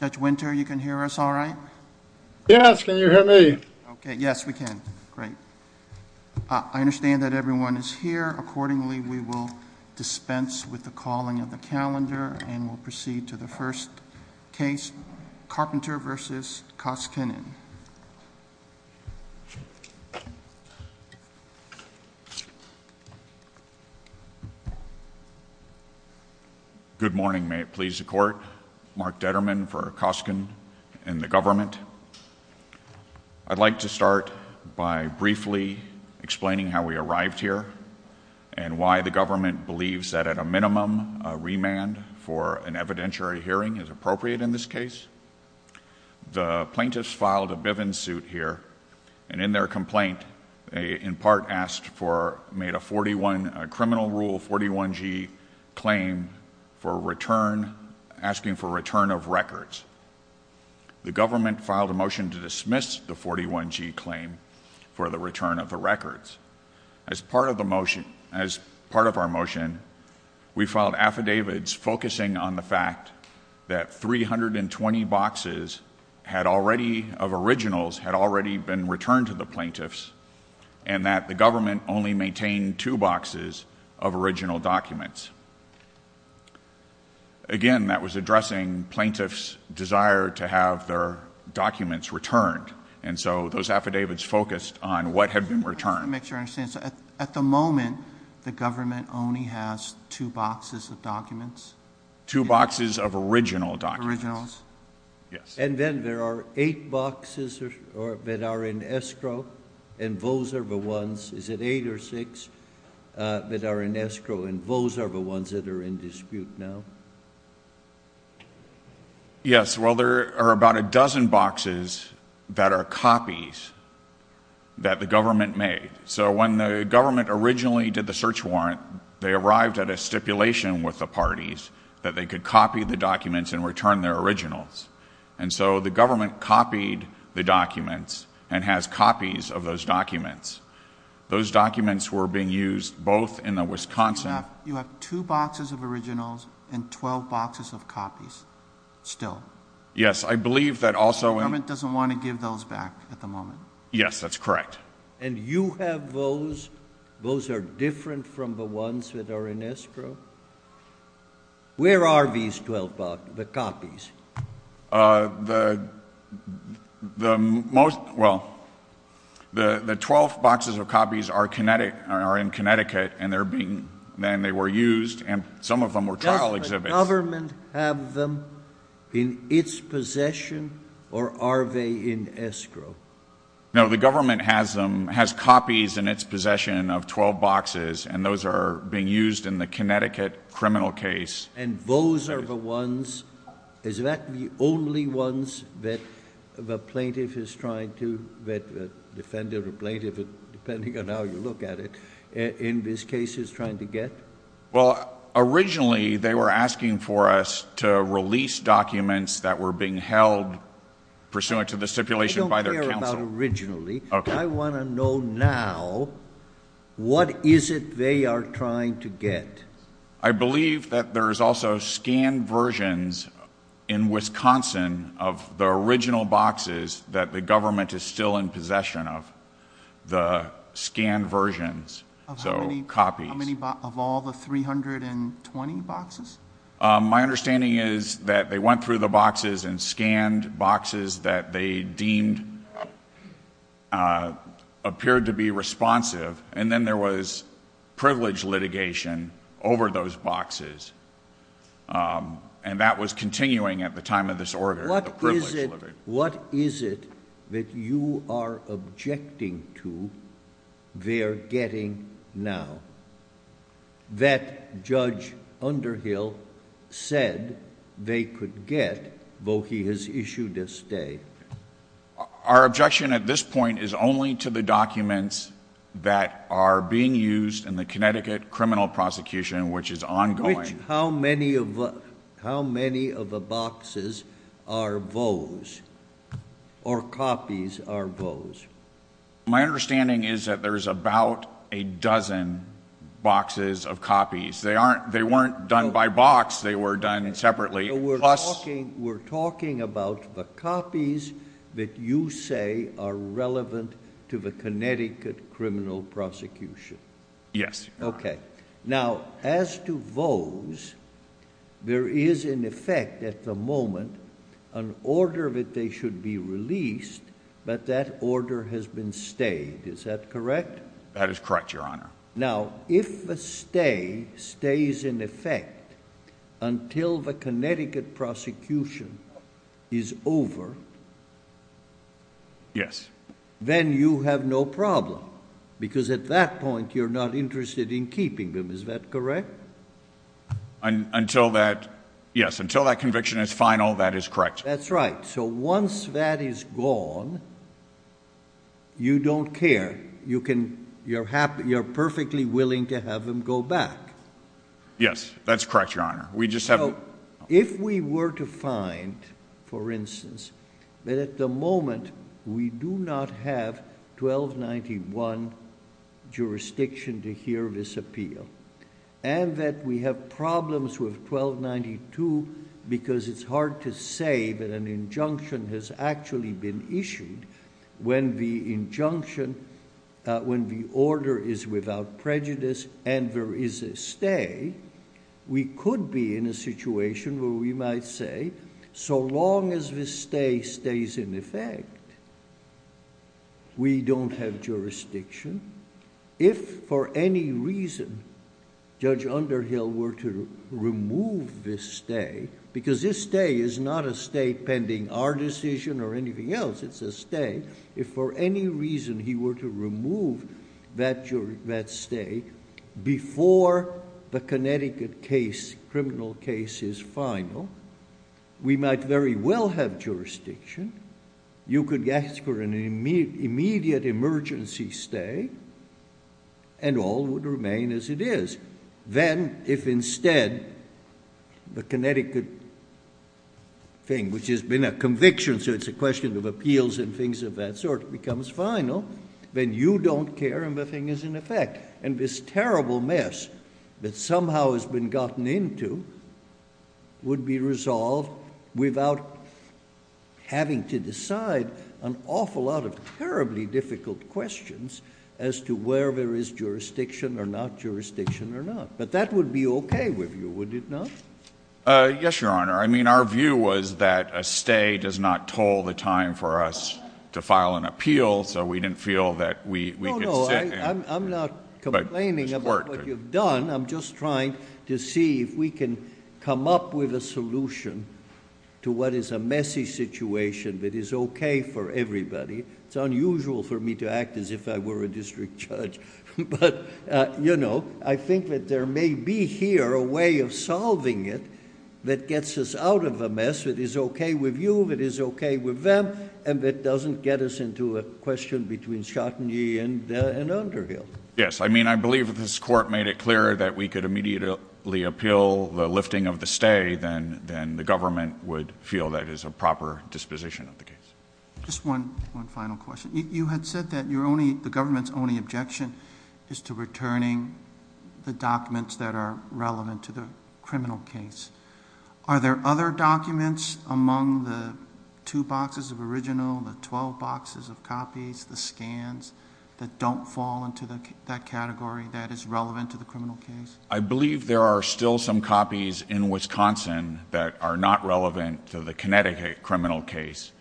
Judge Winter, you can hear us all right? Yes, can you hear me? Okay, yes, we can. Great. I understand that everyone is here. Accordingly, we will dispense with the calling of the calendar and we'll proceed to the first case, Carpenter v. Koskinen. Good morning, may it please the court. Mark Detterman for Koskinen and the government. I'd like to start by briefly explaining how we arrived here and why the government believes that at a minimum, a remand for an evidentiary hearing is appropriate in this case. The plaintiffs filed a Bivens suit here and in their complaint, they in part made a criminal rule 41G claim asking for return of records. The government filed a motion to dismiss the 41G claim for the return of the records. As part of our motion, we filed affidavits focusing on the fact that 320 boxes of originals had already been returned to the plaintiffs and that the government only maintained two boxes of original documents. Again, that was addressing plaintiffs' desire to have their documents returned and so those affidavits focused on what had been returned. At the moment, the government only has two boxes of documents? Two boxes of original documents. And then there are eight boxes that are in escrow and those are the ones, is it eight or six, that are in escrow and those are the ones that are in dispute now? Yes, well there are about a dozen boxes that are copies that the government made. So when the government originally did the search warrant, they arrived at a stipulation with the parties that they could copy the documents and return their originals. And so the government copied the documents and has copies of those documents. Those documents were being used both in the Wisconsin You have two boxes of originals and 12 boxes of copies still? Yes, I believe that also The government doesn't want to give those back at the moment? Yes, that's correct. And you have those, those are different from the ones that are in escrow? Where are these 12 copies? Well, the 12 boxes of copies are in Connecticut and they were used and some of them were trial exhibits. Does the government have them in its possession or are they in escrow? No, the government has them, has copies in its possession of 12 boxes and those are being used in the Connecticut criminal case. And those are the ones, is that the only ones that the plaintiff is trying to, that the defendant or plaintiff, depending on how you look at it, in this case is trying to get? Well, originally they were asking for us to release documents that were being held pursuant to the stipulation by their counsel. I don't care about originally. I want to know now, what is it they are trying to get? I believe that there is also scanned versions in Wisconsin of the original boxes that the government is still in possession of, the scanned versions of copies. Of all the 320 boxes? My understanding is that they went through the boxes and scanned boxes that they deemed, appeared to be responsive and then there was privilege litigation over those boxes. And that was continuing at the time of this order, the privilege litigation. What is it that you are objecting to they're getting now? That Judge Underhill said they could get, though he has issued a stay. Our objection at this point is only to the documents that are being used in the Connecticut criminal prosecution, which is ongoing. How many of the boxes are those? Or copies are those? My understanding is that there is about a dozen boxes of copies. They weren't done by box. They were done separately. We're talking about the copies that you say are relevant to the Connecticut criminal prosecution. Yes. Okay. Now, as to those, there is in effect at the moment an order that they should be released, but that order has been stayed. Is that correct? That is correct, Your Honor. Now, if a stay stays in effect until the Connecticut prosecution is over, then you have no problem because at that point you're not interested in keeping them. Is that correct? Until that conviction is final, that is correct. That's right. So once that is gone, you don't care. You're perfectly willing to have them go back. Yes, that's correct, Your Honor. If we were to find, for instance, that at the moment we do not have 1291 jurisdiction to hear this appeal and that we have problems with 1292 because it's hard to say that an injunction has actually been issued when the order is without prejudice and there is a stay, we could be in a situation where we might say, so long as this stay stays in effect, we don't have jurisdiction. If for any reason Judge Underhill were to remove this stay, because this stay is not a stay pending our decision or anything else. It's a stay. If for any reason he were to remove that stay before the Connecticut case, criminal case, is final, we might very well have jurisdiction. You could ask for an immediate emergency stay and all would remain as it is. Then if instead the Connecticut thing, which has been a conviction, so it's a question of appeals and things of that sort, becomes final, then you don't care and the thing is in effect. And this terrible mess that somehow has been gotten into would be resolved without having to decide an awful lot of terribly difficult questions as to where there is jurisdiction or not jurisdiction or not. But that would be okay with you, would it not? Yes, Your Honor. I mean our view was that a stay does not toll the time for us to file an appeal, so we didn't feel that we could sit. No, no, I'm not complaining about what you've done. I'm just trying to see if we can come up with a solution to what is a messy situation that is okay for everybody. It's unusual for me to act as if I were a district judge. But, you know, I think that there may be here a way of solving it that gets us out of a mess that is okay with you, that is okay with them, and that doesn't get us into a question between Schottengy and Underhill. Yes, I mean I believe that this court made it clear that we could immediately appeal the lifting of the stay than the government would feel that is a proper disposition of the case. Just one final question. You had said that the government's only objection is to returning the documents that are relevant to the criminal case. Are there other documents among the two boxes of original, the twelve boxes of copies, the scans that don't fall into that category that is relevant to the criminal case? I believe there are still some copies in Wisconsin that are not relevant to the Connecticut criminal case,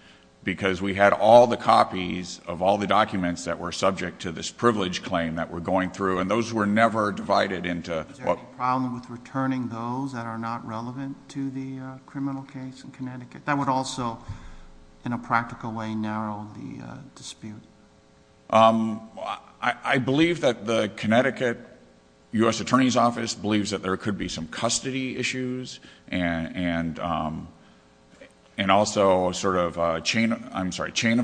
because we had all the copies of all the documents that were subject to this privilege claim that we're going through, and those were never divided into... Is there any problem with returning those that are not relevant to the criminal case in Connecticut? That would also, in a practical way, narrow the dispute. I believe that the Connecticut U.S. Attorney's Office believes that there could be some custody issues, and also a sort of chain of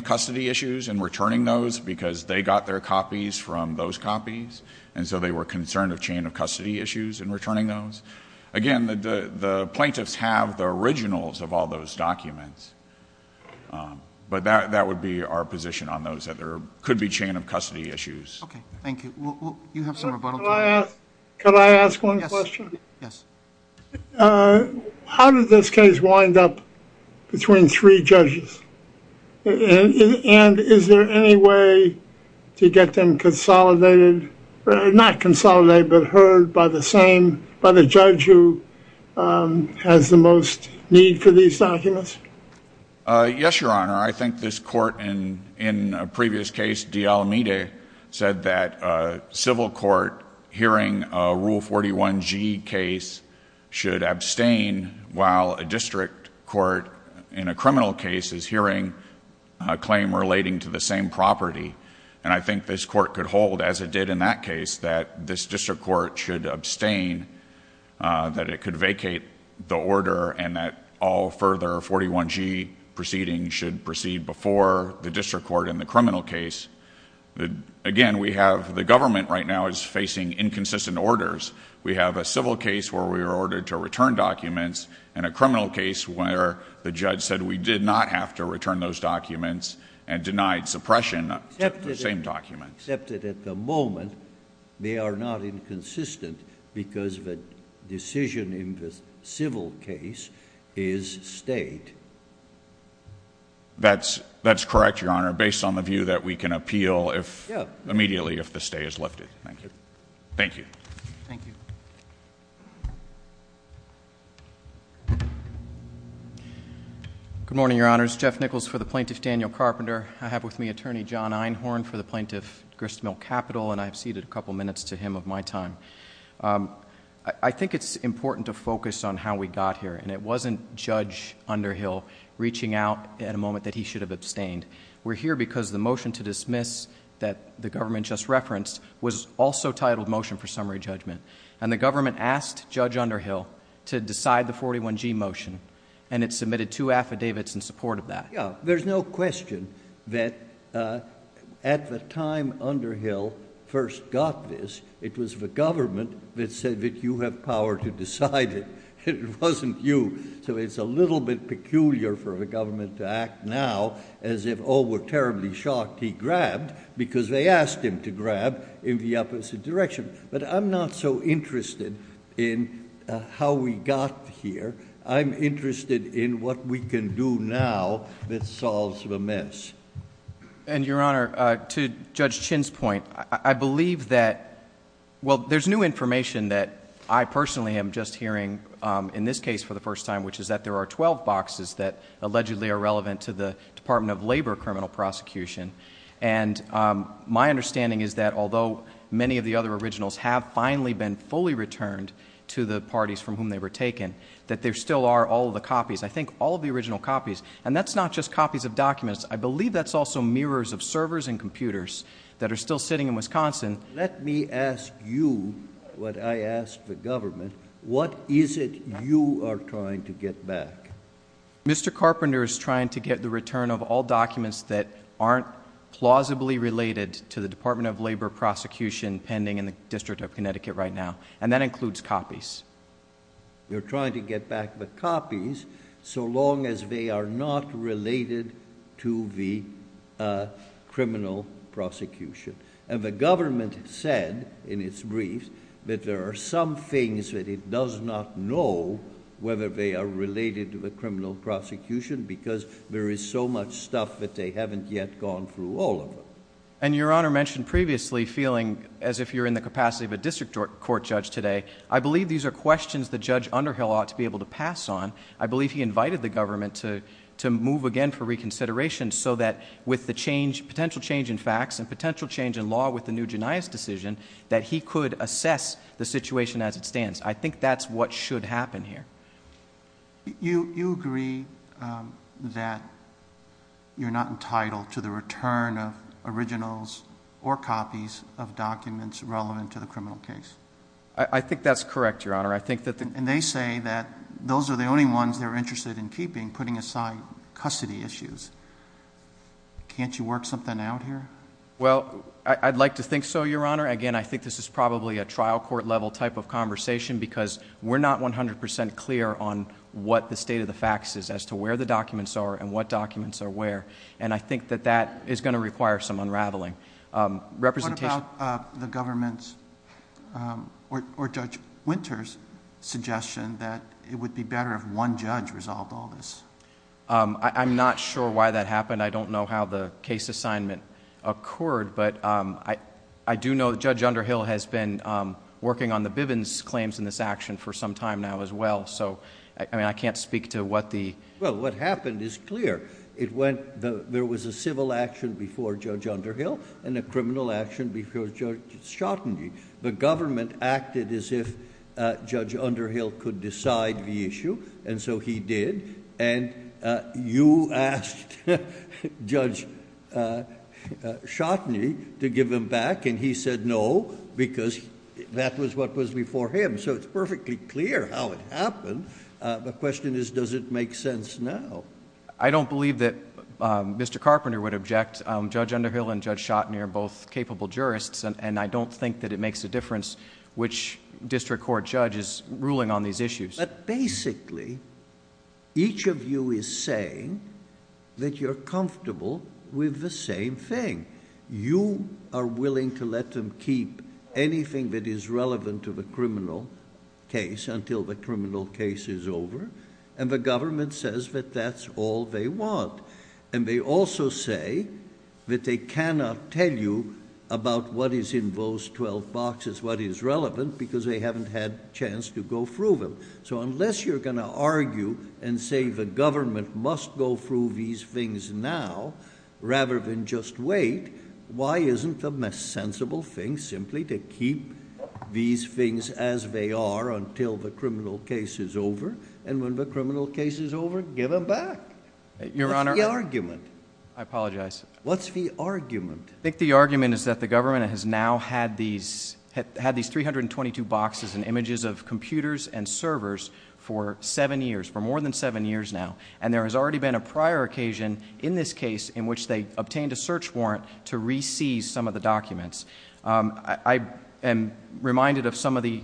custody issues in returning those, because they got their copies from those copies, and so they were concerned of chain of custody issues in returning those. Again, the plaintiffs have the originals of all those documents, but that would be our position on those, that there could be chain of custody issues. Okay, thank you. You have some rebuttal time. Could I ask one question? Yes. How did this case wind up between three judges, and is there any way to get them consolidated, not consolidated, but heard by the judge who has the most need for these documents? Yes, Your Honor. I think this court, in a previous case, De Almeida said that a civil court hearing a Rule 41G case should abstain, while a district court, in a criminal case, is hearing a claim relating to the same property. I think this court could hold, as it did in that case, that this district court should abstain, that it could vacate the order, and that all further 41G proceedings should proceed before the district court in the criminal case. Again, we have the government right now is facing inconsistent orders. We have a civil case where we were ordered to return documents, and a criminal case where the judge said we did not have to return those documents and denied suppression of the same documents. Except that at the moment, they are not inconsistent because the decision in the civil case is state. That's correct, Your Honor, based on the view that we can appeal immediately if the stay is lifted. Thank you. Thank you. Thank you. Good morning, Your Honors. Jeff Nichols for the Plaintiff Daniel Carpenter. I have with me Attorney John Einhorn for the Plaintiff Gristmill Capital, and I have ceded a couple minutes to him of my time. I think it's important to focus on how we got here, and it wasn't Judge Underhill reaching out at a moment that he should have abstained. We're here because the motion to dismiss that the government just referenced was also titled Motion for Summary Judgment, and the government asked Judge Underhill to decide the 41G motion, and it submitted two affidavits in support of that. Yeah. There's no question that at the time Underhill first got this, it was the government that said that you have power to decide it. It wasn't you, so it's a little bit peculiar for the government to act now as if, oh, we're terribly shocked he grabbed because they asked him to grab in the opposite direction. But I'm not so interested in how we got here. I'm interested in what we can do now that solves the mess. And, Your Honor, to Judge Chin's point, I believe that, well, there's new information that I personally am just hearing in this case for the first time, which is that there are 12 boxes that allegedly are relevant to the Department of Labor criminal prosecution, and my understanding is that although many of the other originals have finally been fully returned to the parties from whom they were taken, that there still are all of the copies, I think all of the original copies, and that's not just copies of documents. I believe that's also mirrors of servers and computers that are still sitting in Wisconsin. Let me ask you what I ask the government. What is it you are trying to get back? Mr. Carpenter is trying to get the return of all documents that aren't plausibly related to the Department of Labor prosecution pending in the District of Connecticut right now, and that includes copies. You're trying to get back the copies so long as they are not related to the criminal prosecution. The government said in its briefs that there are some things that it does not know whether they are related to the criminal prosecution because there is so much stuff that they haven't yet gone through all of them. Your Honor mentioned previously feeling as if you're in the capacity of a district court judge today. I believe these are questions that Judge Underhill ought to be able to pass on. I believe he invited the government to move again for reconsideration so that with the potential change in facts and potential change in law with the new Genias decision that he could assess the situation as it stands. I think that's what should happen here. You agree that you're not entitled to the return of originals or copies of documents relevant to the criminal case? I think that's correct, Your Honor. And they say that those are the only ones they're interested in keeping, putting aside custody issues. Can't you work something out here? Well, I'd like to think so, Your Honor. Again, I think this is probably a trial court-level type of conversation because we're not 100 percent clear on what the state of the facts is as to where the documents are and what documents are where, and I think that that is going to require some unraveling. What about the government's or Judge Winter's suggestion that it would be better if one judge resolved all this? I'm not sure why that happened. I don't know how the case assignment occurred, but I do know that Judge Underhill has been working on the Bivens claims in this action for some time now as well, so I can't speak to what the... Well, what happened is clear. There was a civil action before Judge Underhill and a criminal action before Judge Schotteny. The government acted as if Judge Underhill could decide the issue, and so he did, and you asked Judge Schotteny to give him back, and he said no because that was what was before him, so it's perfectly clear how it happened. The question is, does it make sense now? I don't believe that Mr. Carpenter would object. Judge Underhill and Judge Schotteny are both capable jurists, and I don't think that it makes a difference which district court judge is ruling on these issues. But basically, each of you is saying that you're comfortable with the same thing. You are willing to let them keep anything that is relevant to the criminal case and the government says that that's all they want, and they also say that they cannot tell you about what is in those 12 boxes, what is relevant, because they haven't had a chance to go through them. So unless you're going to argue and say the government must go through these things now rather than just wait, why isn't the sensible thing simply to keep these things as they are until the criminal case is over, and when the criminal case is over, give them back? What's the argument? I apologize. What's the argument? I think the argument is that the government has now had these 322 boxes and images of computers and servers for seven years, for more than seven years now, and there has already been a prior occasion in this case in which they obtained a search warrant to re-seize some of the documents. I am reminded of some of the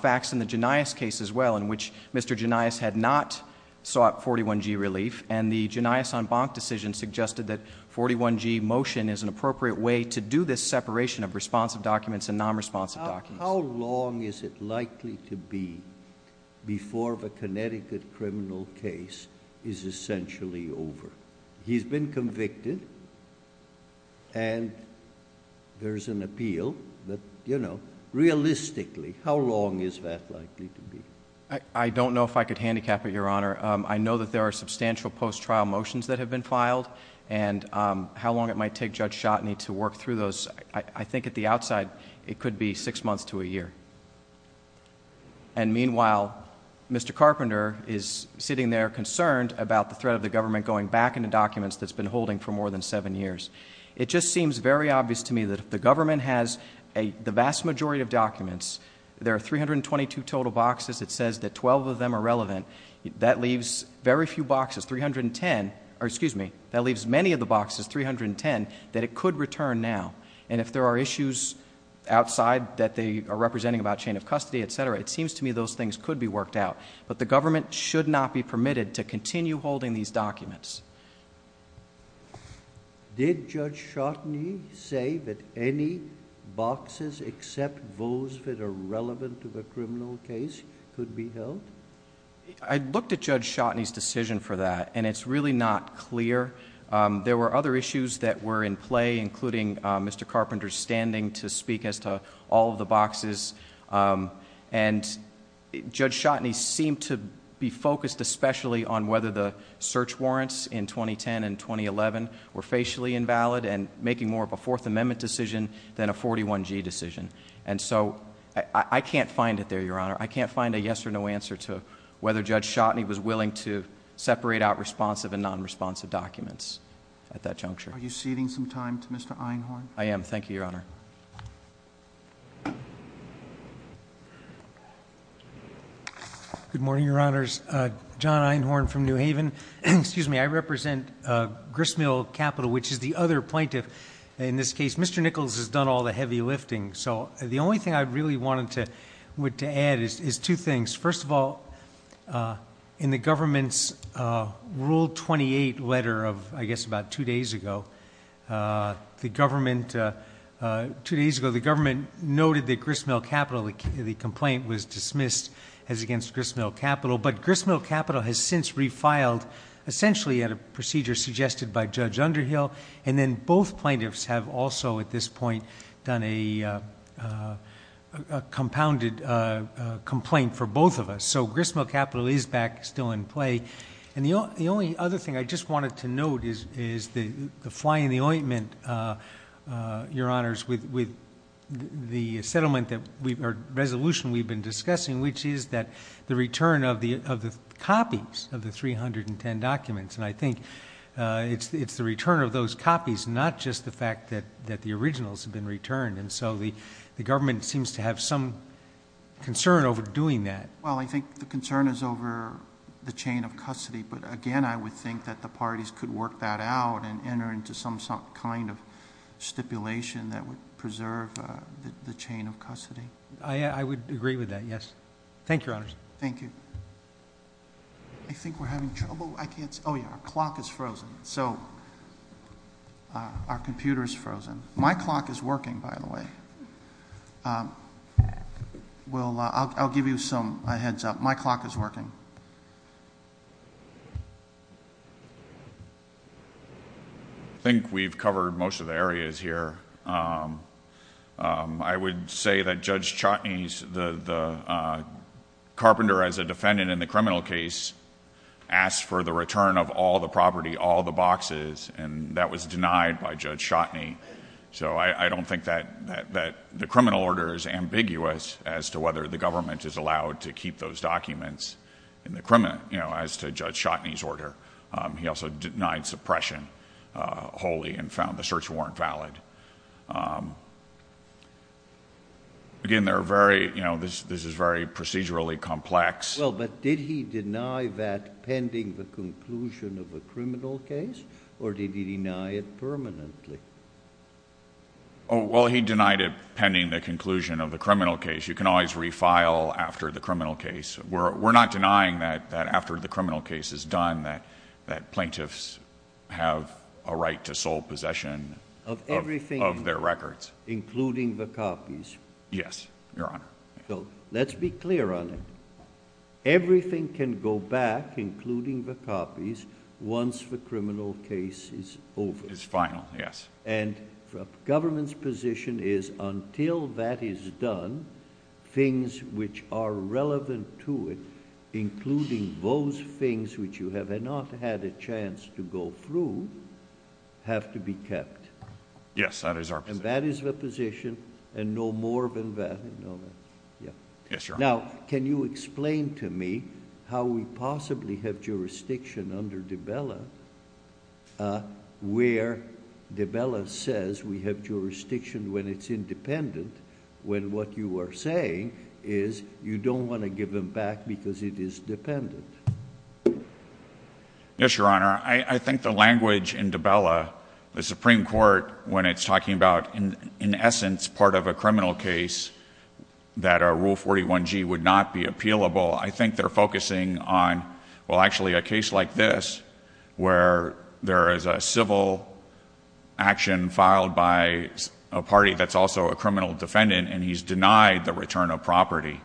facts in the Genias case as well in which Mr. Genias had not sought 41G relief, and the Genias en banc decision suggested that 41G motion is an appropriate way to do this separation of responsive documents and non-responsive documents. How long is it likely to be before the Connecticut criminal case is essentially over? He's been convicted, and there's an appeal, but realistically, how long is that likely to be? I don't know if I could handicap it, Your Honor. I know that there are substantial post-trial motions that have been filed, and how long it might take Judge Schotteny to work through those, I think at the outside it could be six months to a year. And meanwhile, Mr. Carpenter is sitting there concerned about the threat of the government going back into documents that it's been holding for more than seven years. It just seems very obvious to me that if the government has the vast majority of documents, there are 322 total boxes that says that 12 of them are relevant, that leaves very few boxes, 310, or excuse me, that leaves many of the boxes, 310, that it could return now. And if there are issues outside that they are representing about chain of custody, et cetera, it seems to me those things could be worked out. But the government should not be permitted to continue holding these documents. Did Judge Schotteny say that any boxes except those that are relevant to the criminal case could be held? I looked at Judge Schotteny's decision for that, and it's really not clear. There were other issues that were in play, including Mr. Carpenter's standing to speak as to all of the boxes. And Judge Schotteny seemed to be focused especially on whether the search warrants in 2010 and 2011 were facially invalid and making more of a Fourth Amendment decision than a 41G decision. And so I can't find it there, Your Honor. I can't find a yes or no answer to whether Judge Schotteny was willing to separate out responsive and non-responsive documents at that juncture. Are you ceding some time to Mr. Einhorn? I am. Thank you, Your Honor. Good morning, Your Honors. John Einhorn from New Haven. Excuse me. I represent Gristmill Capital, which is the other plaintiff in this case. Mr. Nichols has done all the heavy lifting. So the only thing I really wanted to add is two things. First of all, in the government's Rule 28 letter of, I guess, about two days ago, the government noted that Gristmill Capital, the complaint was dismissed as against Gristmill Capital. But Gristmill Capital has since refiled essentially at a procedure suggested by Judge Underhill. And then both plaintiffs have also at this point done a compounded complaint for both of us. So Gristmill Capital is back still in play. And the only other thing I just wanted to note is the fly in the ointment, Your Honors, with the settlement or resolution we've been discussing, which is the return of the copies of the 310 documents. And I think it's the return of those copies, not just the fact that the originals have been returned. And so the government seems to have some concern over doing that. Well, I think the concern is over the chain of custody. But again, I would think that the parties could work that out and enter into some kind of stipulation that would preserve the chain of custody. I would agree with that, yes. Thank you, Your Honors. Thank you. I think we're having trouble. I can't see. Oh, yeah, our clock is frozen. So our computer is frozen. My clock is working, by the way. Well, I'll give you some heads up. My clock is working. I think we've covered most of the areas here. I would say that Judge Chotny, the carpenter as a defendant in the criminal case, asked for the return of all the property, all the boxes. And that was denied by Judge Chotny. So I don't think that the criminal order is ambiguous as to whether the government is allowed to keep those documents as to Judge Chotny's order. He also denied suppression wholly and found the search warrant valid. Again, this is very procedurally complex. Well, but did he deny that pending the conclusion of the criminal case? Or did he deny it permanently? Oh, well, he denied it pending the conclusion of the criminal case. You can always refile after the criminal case. We're not denying that after the criminal case is done that plaintiffs have a right to sole possession of their records. Of everything, including the copies? Yes, Your Honor. So let's be clear on it. Everything can go back, including the copies, once the criminal case is over. It's final, yes. And the government's position is until that is done, things which are relevant to it, including those things which you have not had a chance to go through, have to be kept. Yes, that is our position. And no more than that. Yes, Your Honor. Now, can you explain to me how we possibly have jurisdiction under de Bella where de Bella says we have jurisdiction when it's independent, when what you are saying is you don't want to give them back because it is dependent? Yes, Your Honor. I think the language in de Bella, the Supreme Court, when it's talking about, in essence, part of a criminal case that a Rule 41G would not be appealable, I think they're focusing on, well, actually, a case like this where there is a civil action filed by a party that's also a criminal defendant and he's denied the return of property.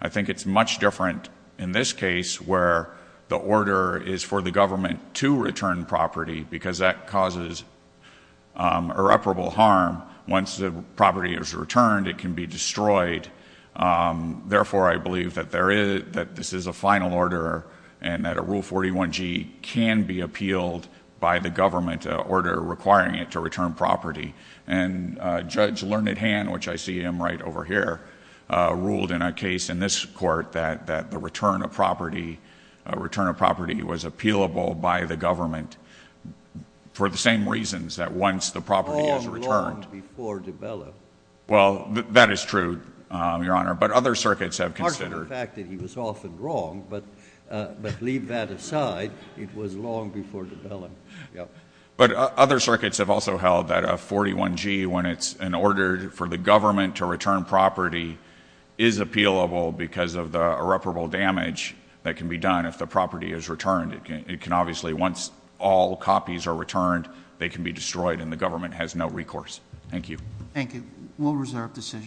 I think it's much different in this case where the order is for the government to return property because that causes irreparable harm. Once the property is returned, it can be destroyed. Therefore, I believe that this is a final order and that a Rule 41G can be appealed by the government, an order requiring it to return property. And Judge Learned Hand, which I see him right over here, ruled in a case in this court that the return of property was appealable by the government for the same reasons that once the property is returned. Long, long before de Bella. Well, that is true, Your Honor. But other circuits have considered. Part of the fact that he was often wrong, but leave that aside. It was long before de Bella. But other circuits have also held that a 41G, when it's an order for the government to return property, is appealable because of the irreparable damage that can be done if the property is returned. It can obviously, once all copies are returned, they can be destroyed and the government has no recourse. Thank you. Thank you. We'll reserve decision. Thank you.